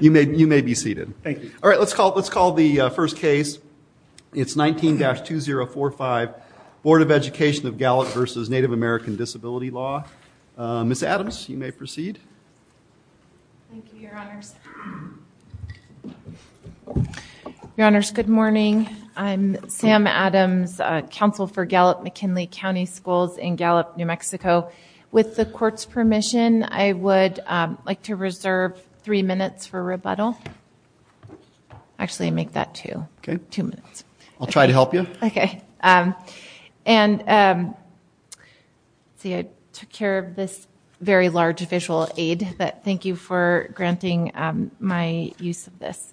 You may be seated. Thank you. All right, let's call the first case. It's 19-2045, Board of Education of Gallup v. Native American Disability Law. Ms. Adams, you may proceed. Thank you, Your Honors. Your Honors, good morning. I'm Sam Adams, Counsel for Gallup-McKinley County Schools in Gallup, New Mexico. With the Court's permission, I would like to reserve three minutes for rebuttal. Actually, I make that two. Okay. Two minutes. I'll try to help you. Okay. See, I took care of this very large visual aid, but thank you for granting my use of this.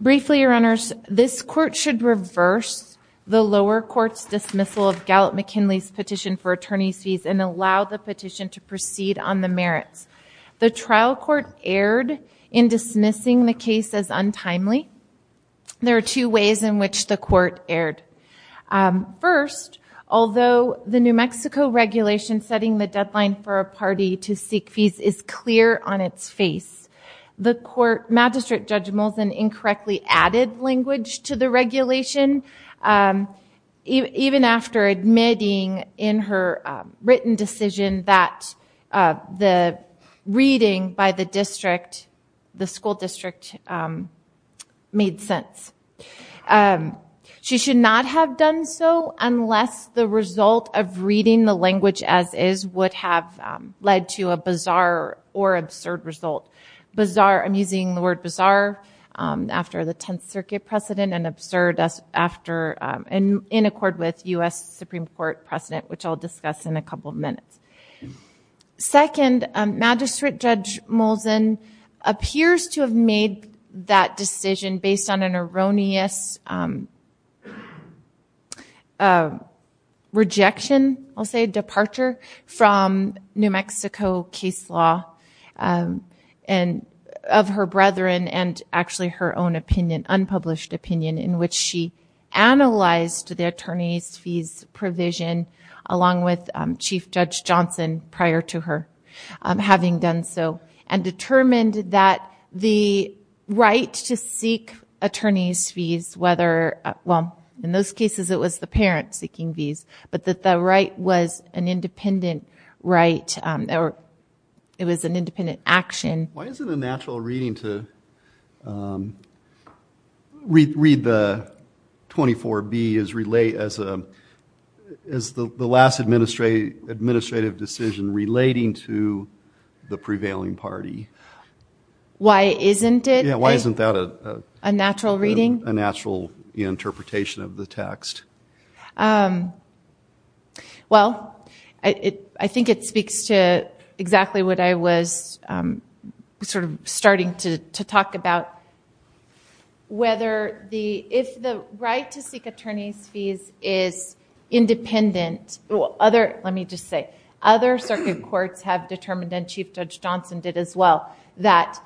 Briefly, Your Honors, this Court should reverse the lower court's dismissal of Gallup-McKinley's petition for attorney's fees and allow the petition to proceed on the merits. The trial court erred in dismissing the case as untimely. There are two ways in which the court erred. First, although the New Mexico regulation setting the deadline for a party to seek fees is clear on its face, the court magistrate judge Moulton incorrectly added language to the regulation, even after admitting in her written decision that the reading by the school district made sense. She should not have done so unless the result of reading the language as is would have led to a bizarre or absurd result. I'm using the word bizarre after the Tenth Circuit precedent and absurd in accord with U.S. Supreme Court precedent, which I'll discuss in a couple of minutes. Second, Magistrate Judge Moulton appears to have made that decision based on an erroneous rejection, I'll say, departure from New Mexico case law of her brethren and actually her own unpublished opinion in which she analyzed the attorney's fees provision along with Chief Judge Johnson prior to her having done so and determined that the right to seek attorney's fees, whether, well, in those cases it was the parent seeking fees, but that the right was an independent right or it was an independent action. Why is it a natural reading to read the 24B as the last administrative decision relating to the prevailing party? Why isn't it? Yeah, why isn't that a... A natural reading? A natural interpretation of the text? Well, I think it speaks to exactly what I was sort of starting to talk about, whether the, if the right to seek attorney's fees is independent, other, let me just say, other circuit courts have determined and Chief Judge Johnson did as well, that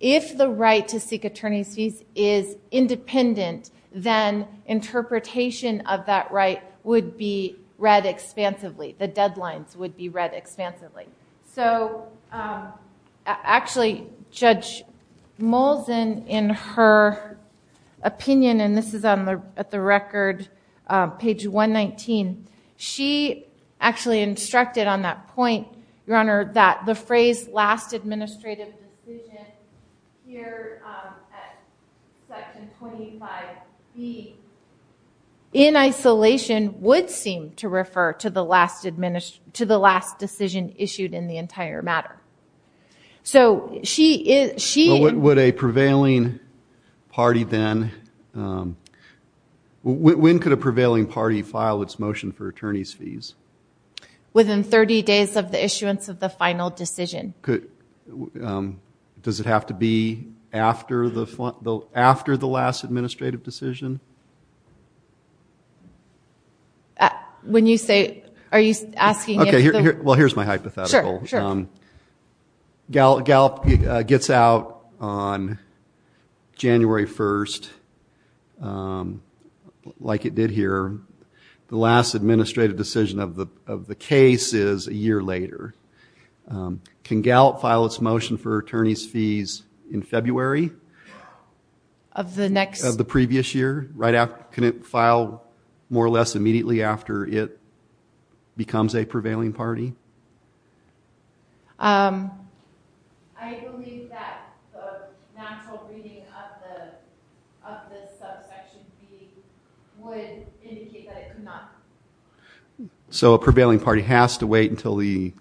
if the right to seek attorney's fees is independent, then interpretation of that right would be read expansively, the deadlines would be read expansively. So actually, Judge Moulton, in her opinion, and this is at the record, page 119, she actually instructed on that point, Your Honor, that the phrase, last administrative decision here at section 25B, in isolation, would seem to refer to the last decision issued in the entire matter. So she... Would a prevailing party then, when could a prevailing party file its motion for attorney's fees? Within 30 days of the issuance of the final decision. Does it have to be after the last administrative decision? When you say, are you asking if the... Well, here's my hypothetical. Gallup gets out on January 1st, like it did here. The last administrative decision of the case is a year later. Can Gallup file its motion for attorney's fees in February? Of the next... Can it file more or less immediately after it becomes a prevailing party? So a prevailing party has to wait until the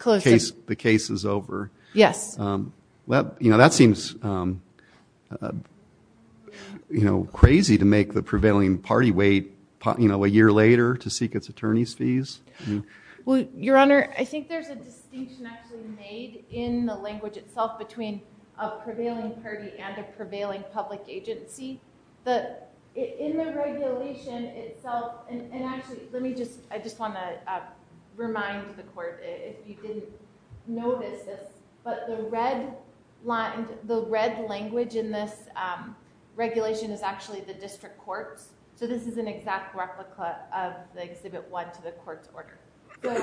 case is over? Yes. That seems crazy to make the prevailing party wait a year later to seek its attorney's fees. Your Honor, I think there's a distinction actually made in the language itself between a prevailing party and a prevailing public agency. In the regulation itself... And actually, let me just... I just want to remind the court, if you didn't notice this, but the red language in this regulation is actually the district court's. So this is an exact replica of the Exhibit 1 to the court's order. But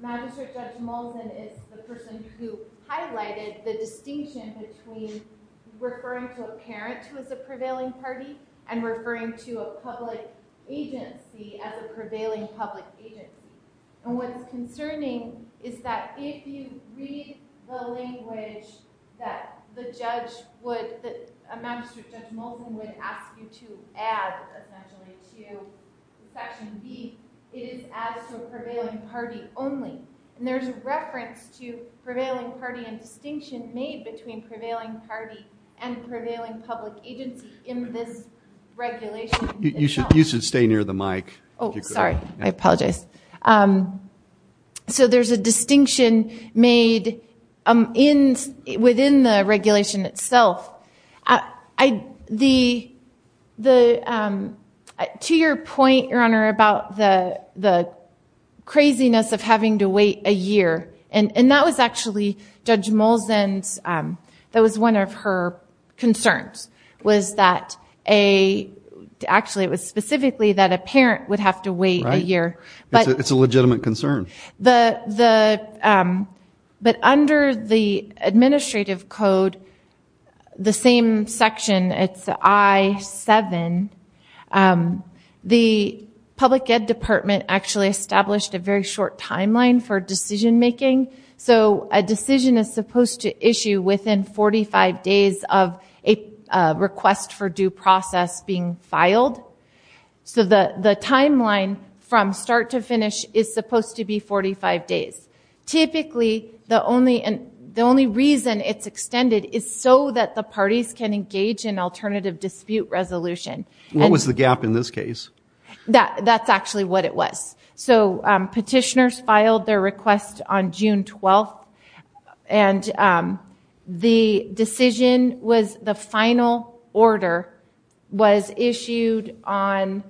Magistrate Judge Moulton is the person who highlighted the distinction between referring to a parent who is a prevailing party and referring to a public agency as a prevailing public agency. And what's concerning is that if you read the language that the judge would... that Magistrate Judge Moulton would ask you to add, essentially, to Section B, it is added to a prevailing party only. And there's a reference to prevailing party and distinction made between prevailing party and prevailing public agency in this regulation. You should stay near the mic. Oh, sorry. I apologize. So there's a distinction made within the regulation itself. To your point, Your Honor, about the craziness of having to wait a year, and that was actually Judge Moulton's... That was one of her concerns was that a... a parent would have to wait a year. It's a legitimate concern. But under the administrative code, the same section, it's I-7, the public ed department actually established a very short timeline for decision making. So a decision is supposed to issue within 45 days of a request for due process being filed. So the timeline from start to finish is supposed to be 45 days. Typically, the only reason it's extended is so that the parties can engage in alternative dispute resolution. What was the gap in this case? That's actually what it was. So petitioners filed their request on June 12th, and the decision was the final order was issued on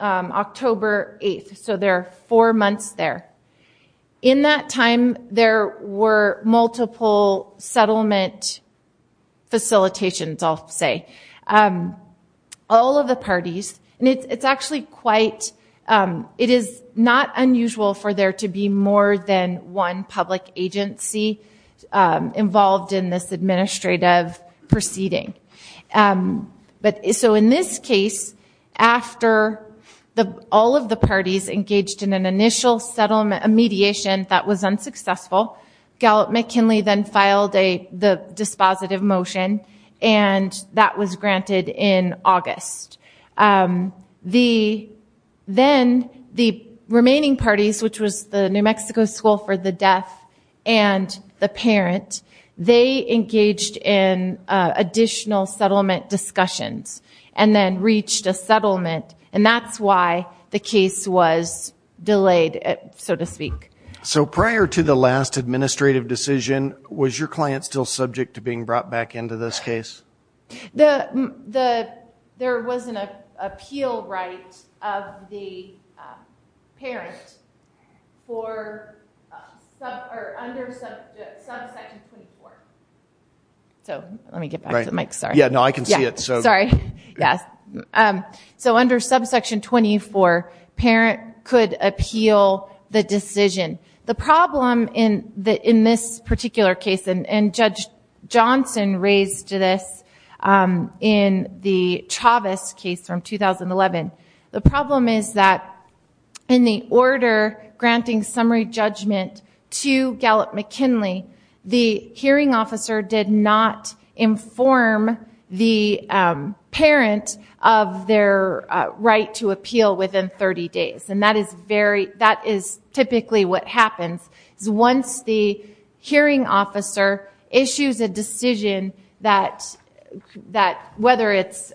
October 8th. So there are four months there. In that time, there were multiple settlement facilitations, I'll say, all of the parties. And it's actually quite... It is not unusual for there to be more than one public agency involved in this administrative proceeding. So in this case, after all of the parties engaged in an initial settlement, a mediation that was unsuccessful, Gallup-McKinley then filed the dispositive motion, and that was granted in August. Then the remaining parties, which was the New Mexico School for the Deaf and the parent, they engaged in additional settlement discussions and then reached a settlement, and that's why the case was delayed, so to speak. So prior to the last administrative decision, was your client still subject to being brought back into this case? There was an appeal right of the parent under subsection 24. So let me get back to the mic, sorry. Yeah, no, I can see it. Sorry, yes. So under subsection 24, parent could appeal the decision. The problem in this particular case, and Judge Johnson raised this in the Chavez case from 2011, the problem is that in the order granting summary judgment to Gallup-McKinley, the hearing officer did not inform the parent of their right to appeal within 30 days, and that is typically what happens is once the hearing officer issues a decision, whether it's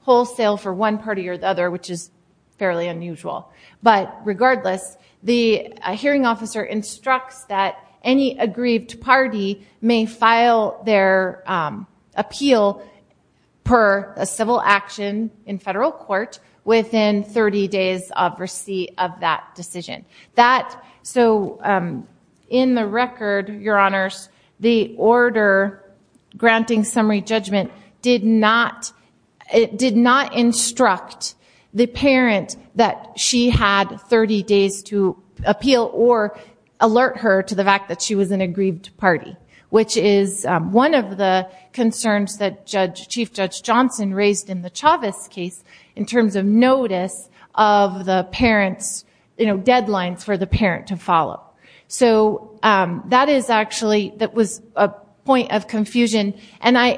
wholesale for one party or the other, which is fairly unusual, but regardless, the hearing officer instructs that any aggrieved party may file their appeal per a civil action in federal court within 30 days of receipt of that decision. So in the record, Your Honors, the order granting summary judgment did not instruct the parent that she had 30 days to appeal or alert her to the fact that she was an aggrieved party, which is one of the concerns that Chief Judge Johnson raised in the Chavez case in terms of notice of the parent's deadlines for the parent to follow. So that is actually a point of confusion, and I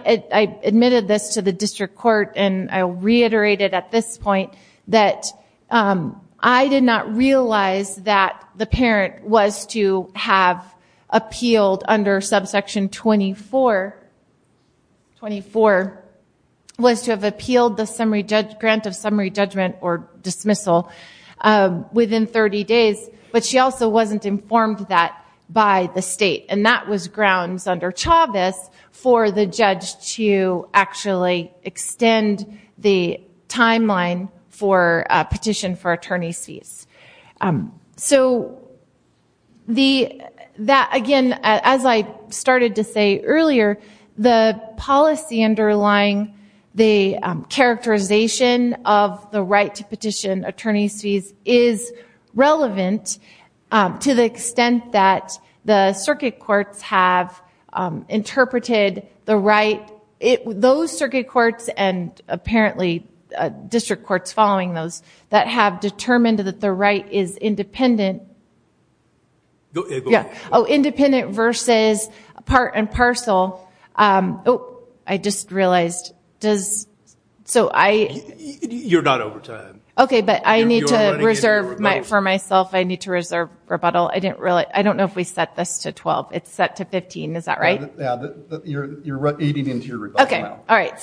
admitted this to the district court, and I'll reiterate it at this point, that I did not realize that the parent was to have appealed under subsection 24 was to have appealed the grant of summary judgment or dismissal within 30 days, but she also wasn't informed of that by the state, and that was grounds under Chavez for the judge to actually extend the timeline for petition for attorney's fees. So again, as I started to say earlier, the policy underlying the characterization of the right to petition attorney's fees is relevant to the extent that the circuit courts have interpreted the right, those circuit courts and apparently district courts following those, that have determined that the right is independent. Independent versus part and parcel. I just realized. You're not over time. Okay, but I need to reserve, for myself, I need to reserve rebuttal. I don't know if we set this to 12. It's set to 15. Is that right? You're eating into your rebuttal now. Okay, all right.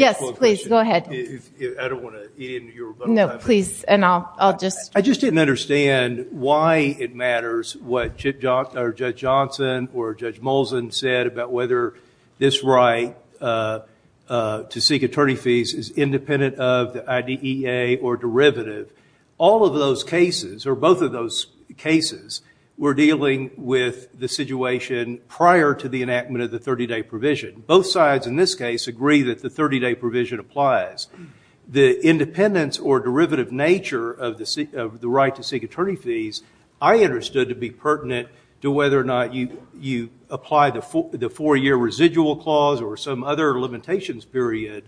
Yes, please, go ahead. I don't want to eat into your rebuttal. No, please, and I'll just. I just didn't understand why it matters what Judge Johnson or Judge Molson said about whether this right to seek attorney's fees is independent of the IDEA or derivative. All of those cases, or both of those cases, were dealing with the situation prior to the enactment of the 30-day provision. Both sides, in this case, agree that the 30-day provision applies. The independence or derivative nature of the right to seek attorney's fees, I understood to be pertinent to whether or not you apply the four-year residual clause or some other limitations period,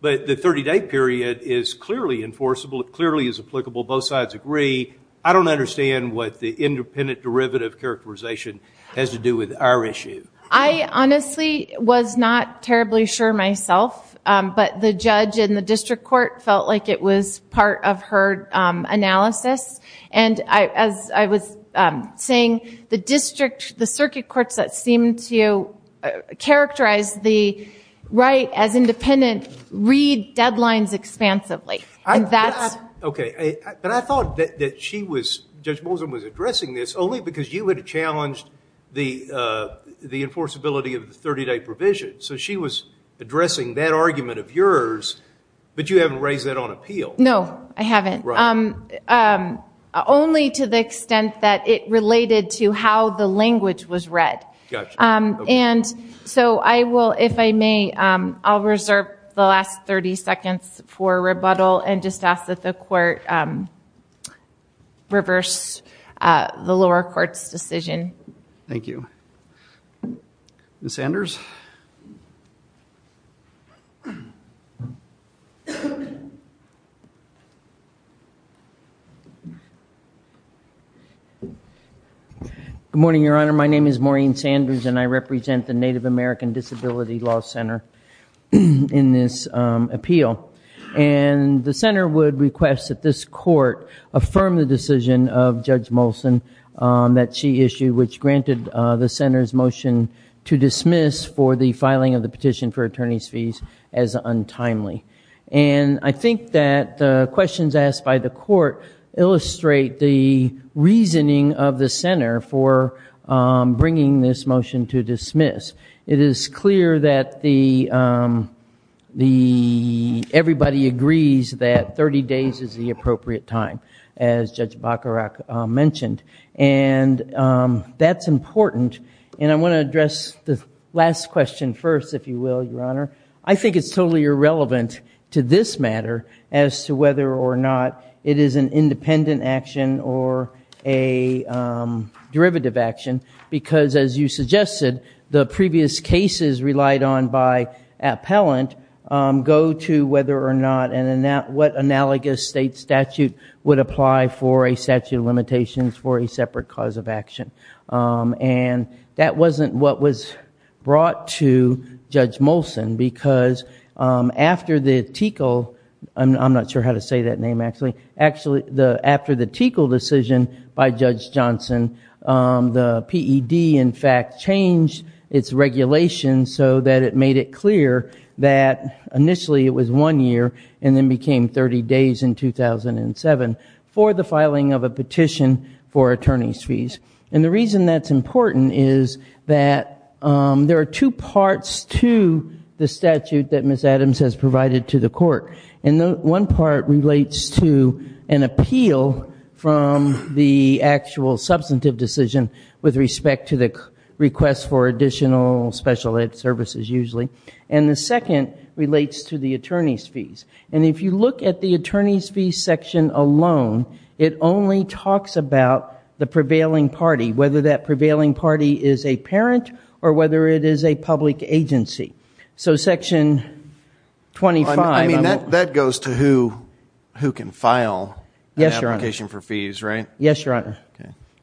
but the 30-day period is clearly enforceable. It clearly is applicable. Both sides agree. I don't understand what the independent derivative characterization has to do with our issue. I honestly was not terribly sure myself, but the judge in the district court felt like it was part of her analysis, and as I was saying, the district, the circuit courts that seem to characterize the right as independent read deadlines expansively. But I thought that Judge Molson was addressing this only because you had challenged the enforceability of the 30-day provision. So she was addressing that argument of yours, but you haven't raised that on appeal. No, I haven't, only to the extent that it related to how the language was read. And so I will, if I may, I'll reserve the last 30 seconds for rebuttal and just ask that the court reverse the lower court's decision. Thank you. Ms. Sanders? Good morning, Your Honor. My name is Maureen Sanders, and I represent the Native American Disability Law Center in this appeal. And the center would request that this court affirm the decision of Judge Molson that she issued, which granted the center's motion to dismiss for the filing of the petition for attorney's fees as untimely. And I think that the questions asked by the court illustrate the reasoning of the center for bringing this motion to dismiss. It is clear that everybody agrees that 30 days is the appropriate time, as Judge Bacharach mentioned. And that's important. And I want to address the last question first, if you will, Your Honor. I think it's totally irrelevant to this matter as to whether or not it is an independent action or a derivative action, because as you suggested, the previous cases relied on by appellant go to whether or not and what analogous state statute would apply for a statute of limitations for a separate cause of action. And that wasn't what was brought to Judge Molson, because after the TEQL, I'm not sure how to say that name actually, after the TEQL decision by Judge Johnson, the PED in fact changed its regulation so that it made it clear that initially it was one year, and then became 30 days in 2007 for the filing of a petition for attorney's fees. And the reason that's important is that there are two parts to the statute that Ms. Adams has provided to the court. And one part relates to an appeal from the actual substantive decision with respect to the request for additional special ed services usually. And the second relates to the attorney's fees. And if you look at the attorney's fees section alone, it only talks about the prevailing party, whether that prevailing party is a parent or whether it is a public agency. So section 25. I mean, that goes to who can file an application for fees, right? Yes, Your Honor.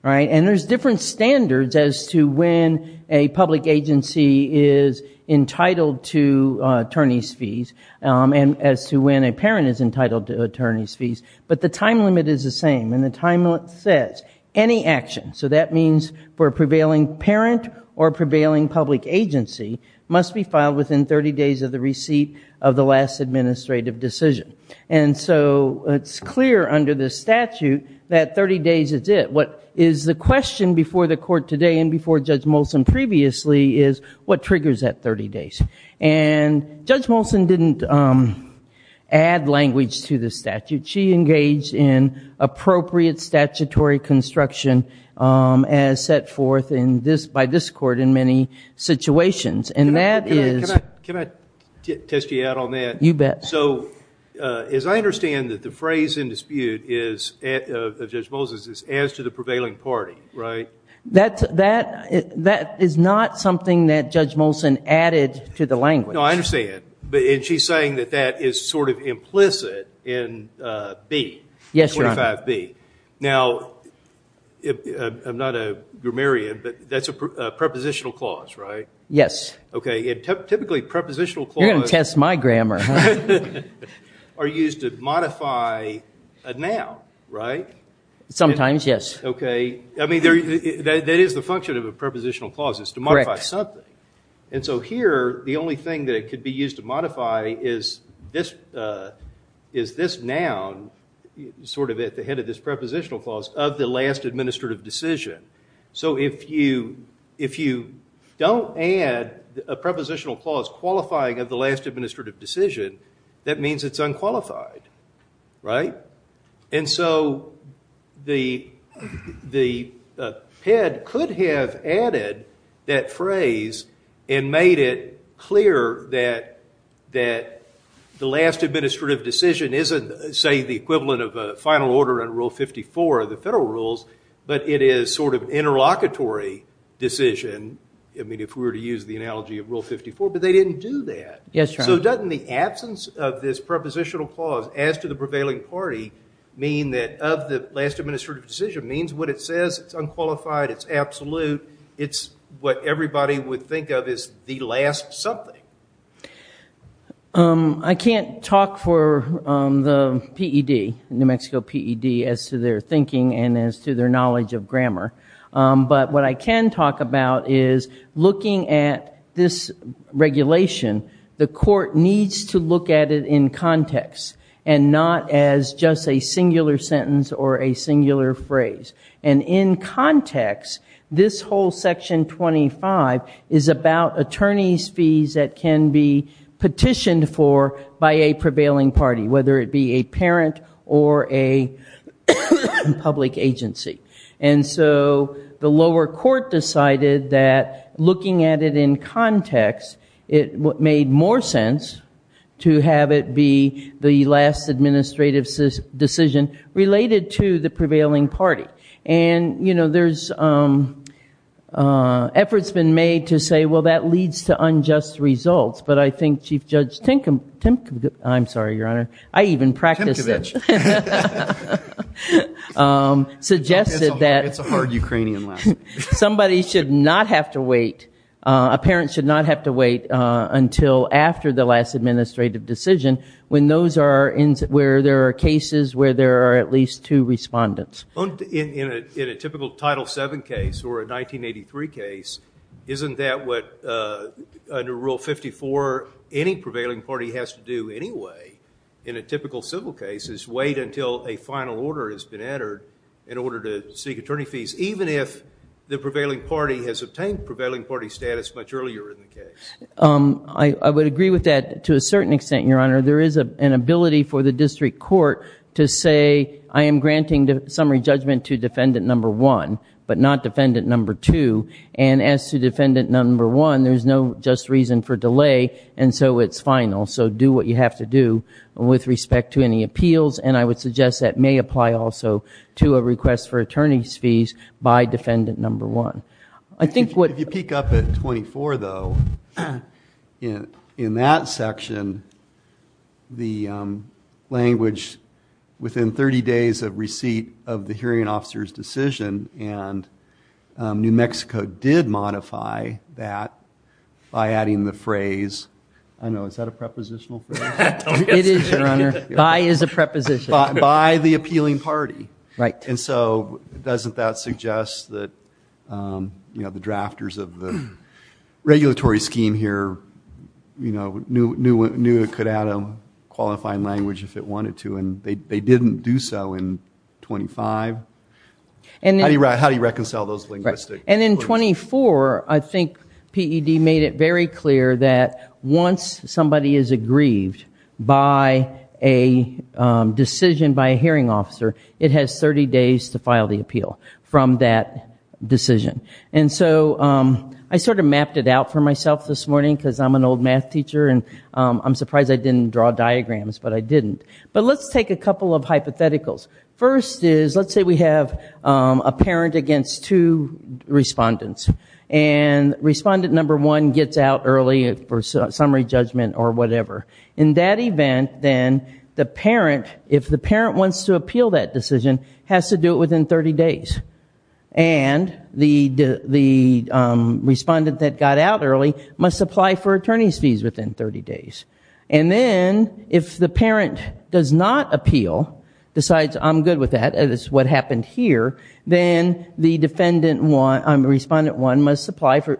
And there's different standards as to when a public agency is entitled to attorney's fees and as to when a parent is entitled to attorney's fees. But the time limit is the same, and the time limit says any action, so that means for a prevailing parent or prevailing public agency, must be filed within 30 days of the receipt of the last administrative decision. And so it's clear under this statute that 30 days is it. What is the question before the court today and before Judge Molson previously is what triggers that 30 days? And Judge Molson didn't add language to the statute. She engaged in appropriate statutory construction as set forth by this court in many situations. And that is – Can I test you out on that? You bet. So as I understand that the phrase in dispute of Judge Molson's is as to the prevailing party, right? That is not something that Judge Molson added to the language. No, I understand. And she's saying that that is sort of implicit in B, 25B. Yes, Your Honor. Now, I'm not a grammarian, but that's a prepositional clause, right? Yes. Okay, and typically prepositional clause – You're going to test my grammar, huh? Are used to modify a noun, right? Sometimes, yes. Okay. I mean, that is the function of a prepositional clause is to modify something. Correct. And so here the only thing that could be used to modify is this noun sort of at the head of this prepositional clause of the last administrative decision. So if you don't add a prepositional clause qualifying of the last administrative decision, that means it's unqualified, right? And so the PED could have added that phrase and made it clear that the last administrative decision isn't, say, the equivalent of a final order in Rule 54 of the federal rules, but it is sort of an interlocutory decision. I mean, if we were to use the analogy of Rule 54, but they didn't do that. Yes, Your Honor. So doesn't the absence of this prepositional clause as to the prevailing party mean that of the last administrative decision means what it says, it's unqualified, it's absolute, it's what everybody would think of as the last something? I can't talk for the PED, New Mexico PED, as to their thinking and as to their knowledge of grammar. But what I can talk about is looking at this regulation, the court needs to look at it in context and not as just a singular sentence or a singular phrase. And in context, this whole Section 25 is about attorney's fees that can be petitioned for by a prevailing party, whether it be a parent or a public agency. And so the lower court decided that looking at it in context, it made more sense to have it be the last administrative decision related to the prevailing party. And, you know, there's efforts been made to say, well, that leads to unjust results. But I think Chief Judge Timkovich, I'm sorry, Your Honor, I even practiced it, suggested that somebody should not have to wait, a parent should not have to wait until after the last administrative decision when those are, where there are cases where there are at least two respondents. In a typical Title VII case or a 1983 case, isn't that what under Rule 54 any prevailing party has to do anyway? In a typical civil case is wait until a final order has been entered in order to seek attorney fees, even if the prevailing party has obtained prevailing party status much earlier in the case. I would agree with that to a certain extent, Your Honor. There is an ability for the district court to say, I am granting the summary judgment to defendant number one, but not defendant number two. And as to defendant number one, there's no just reason for delay, and so it's final. So do what you have to do with respect to any appeals. And I would suggest that may apply also to a request for attorney's fees by defendant number one. If you peek up at 24, though, in that section, the language within 30 days of receipt of the hearing officer's decision, and New Mexico did modify that by adding the phrase, I don't know, is that a prepositional phrase? It is, Your Honor. By is a preposition. By the appealing party. And so doesn't that suggest that the drafters of the regulatory scheme here knew it could add a qualifying language if it wanted to, and they didn't do so in 25? How do you reconcile those linguistic clues? And in 24, I think PED made it very clear that once somebody is aggrieved by a decision by a hearing officer, it has 30 days to file the appeal from that decision. And so I sort of mapped it out for myself this morning because I'm an old math teacher, and I'm surprised I didn't draw diagrams, but I didn't. But let's take a couple of hypotheticals. First is, let's say we have a parent against two respondents, and respondent number one gets out early for summary judgment or whatever. In that event, then, the parent, if the parent wants to appeal that decision, has to do it within 30 days. And the respondent that got out early must apply for attorney's fees within 30 days. And then, if the parent does not appeal, decides, I'm good with that, and it's what happened here, then the respondent one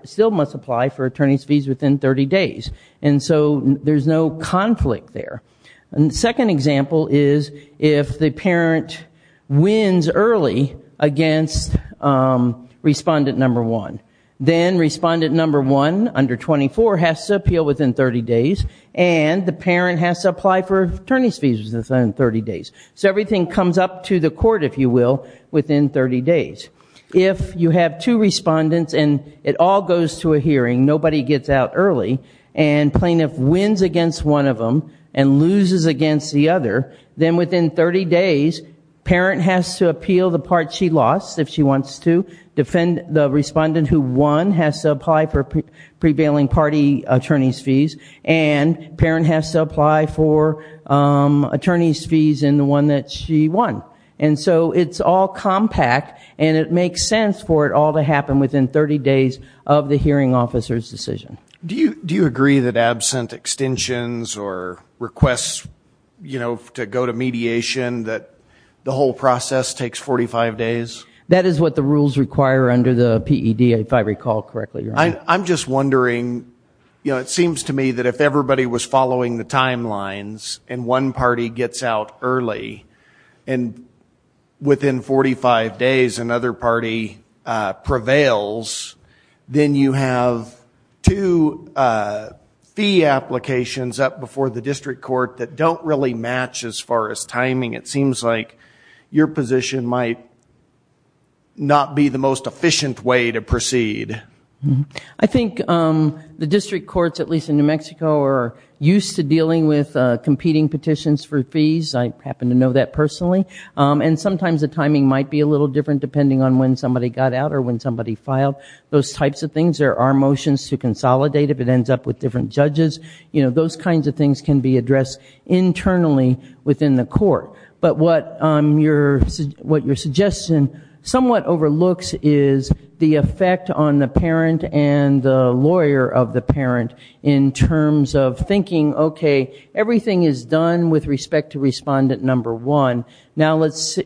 still must apply for attorney's fees within 30 days. And so there's no conflict there. And the second example is, if the parent wins early against respondent number one, then respondent number one under 24 has to appeal within 30 days, and the parent has to apply for attorney's fees within 30 days. So everything comes up to the court, if you will, within 30 days. If you have two respondents and it all goes to a hearing, nobody gets out early, and plaintiff wins against one of them and loses against the other, then within 30 days, parent has to appeal the part she lost, if she wants to, defend the respondent who won, has to apply for prevailing party attorney's fees, and parent has to apply for attorney's fees in the one that she won. And so it's all compact, and it makes sense for it all to happen within 30 days of the hearing officer's decision. Do you agree that absent extensions or requests, you know, to go to mediation, that the whole process takes 45 days? That is what the rules require under the PED, if I recall correctly. I'm just wondering, you know, it seems to me that if everybody was following the timelines and one party gets out early and within 45 days another party prevails, then you have two fee applications up before the district court that don't really match as far as timing. It seems like your position might not be the most efficient way to proceed. I think the district courts, at least in New Mexico, are used to dealing with competing petitions for fees. I happen to know that personally. And sometimes the timing might be a little different depending on when somebody got out or when somebody filed. Those types of things, there are motions to consolidate if it ends up with different judges. You know, those kinds of things can be addressed internally within the court. But what your suggestion somewhat overlooks is the effect on the parent and the lawyer of the parent in terms of thinking, okay, everything is done with respect to respondent number one. Now,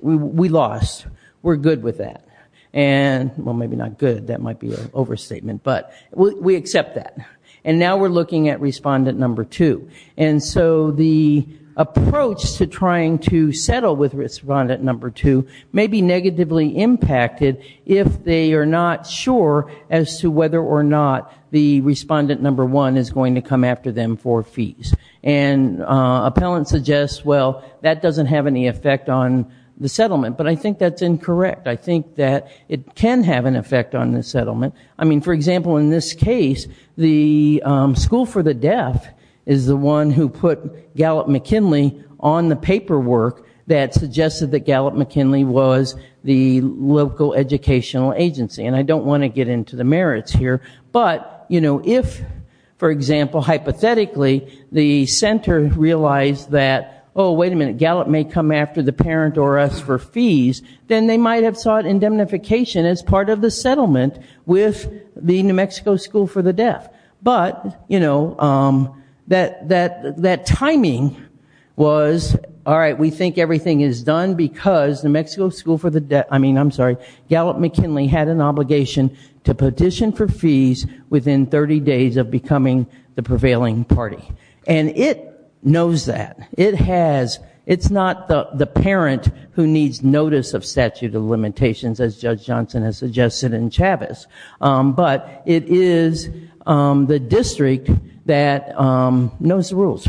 we lost. We're good with that. Well, maybe not good. That might be an overstatement. But we accept that. And now we're looking at respondent number two. And so the approach to trying to settle with respondent number two may be negatively impacted if they are not sure as to whether or not the respondent number one is going to come after them for fees. And appellant suggests, well, that doesn't have any effect on the settlement. But I think that's incorrect. I think that it can have an effect on the settlement. I mean, for example, in this case, the school for the deaf is the one who put Gallup-McKinley on the paperwork that suggested that Gallup-McKinley was the local educational agency. And I don't want to get into the merits here. But, you know, if, for example, hypothetically, the center realized that, oh, wait a minute, Gallup may come after the parent or us for fees, then they might have sought indemnification as part of the settlement with the New Mexico School for the Deaf. But, you know, that timing was, all right, we think everything is done because New Mexico School for the Deaf, I mean, I'm sorry, Gallup-McKinley had an obligation to petition for fees within 30 days of becoming the prevailing party. And it knows that. It's not the parent who needs notice of statute of limitations, as Judge Johnson has suggested in Chavez. But it is the district that knows the rules.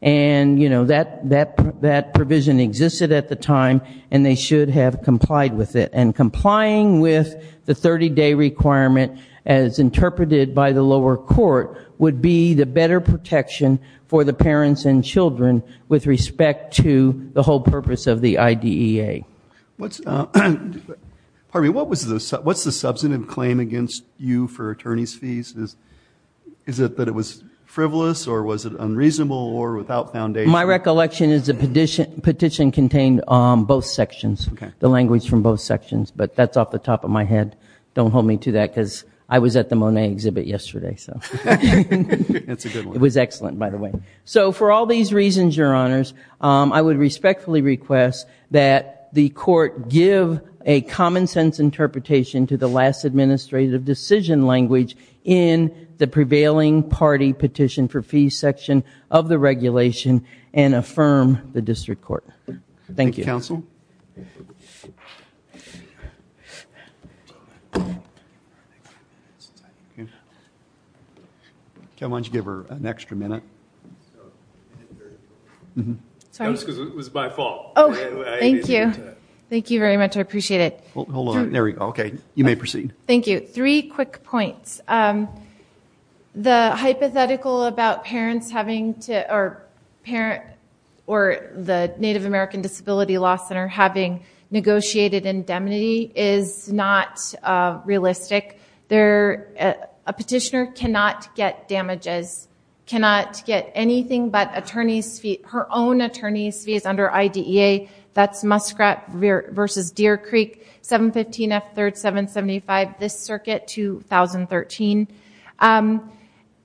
And, you know, that provision existed at the time, and they should have complied with it. And complying with the 30-day requirement, as interpreted by the lower court, would be the better protection for the parents and children with respect to the whole purpose of the IDEA. Pardon me. What's the substantive claim against you for attorney's fees? Is it that it was frivolous, or was it unreasonable, or without foundation? My recollection is the petition contained both sections, the language from both sections. But that's off the top of my head. Don't hold me to that, because I was at the Monet exhibit yesterday. It was excellent, by the way. So for all these reasons, Your Honors, I would respectfully request that the court give a common-sense interpretation to the last administrative decision language in the prevailing party petition for fees section of the regulation and affirm the district court. Thank you. Thank you, counsel. Kim, why don't you give her an extra minute? Sorry. It was my fault. Thank you. Thank you very much. I appreciate it. Hold on. There we go. Okay. You may proceed. Thank you. Three quick points. The hypothetical about parents or the Native American Disability Law Center having negotiated indemnity is not realistic. A petitioner cannot get damages, cannot get anything but her own attorney's fees under IDEA. That's Muskrat v. Deer Creek, 715 F. 3rd, 775, this circuit, 2013.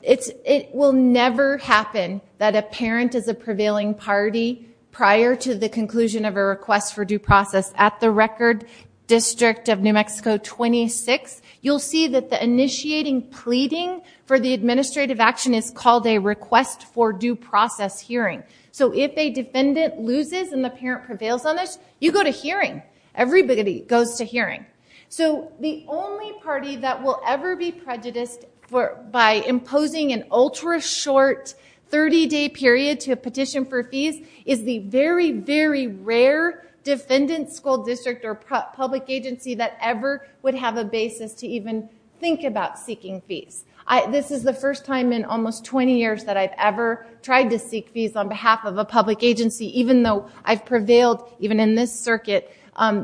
It will never happen that a parent is a prevailing party prior to the conclusion of a request for due process. At the record, District of New Mexico 26, you'll see that the initiating pleading for the administrative action is called a request for due process hearing. So if a defendant loses and the parent prevails on this, you go to hearing. Everybody goes to hearing. So the only party that will ever be prejudiced by imposing an ultra-short 30-day period to a petition for fees is the very, very rare defendant, school district, or public agency that ever would have a basis to even think about seeking fees. This is the first time in almost 20 years that I've ever tried to seek fees on behalf of a public agency, even though I've prevailed, even in this circuit,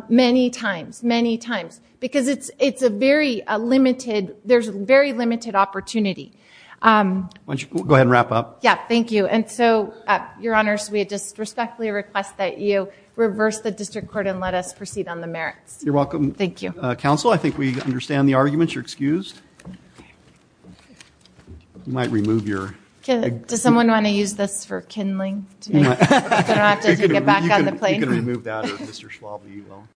many times, many times. Because it's a very limited, there's a very limited opportunity. Why don't you go ahead and wrap up. Yeah, thank you. And so, Your Honors, we just respectfully request that you reverse the district court and let us proceed on the merits. You're welcome. Thank you. Counsel, I think we understand the arguments. You're excused. You might remove your. Does someone want to use this for kindling? I don't have to take it back on the plane. You can remove that, or Mr. Schwab, you will.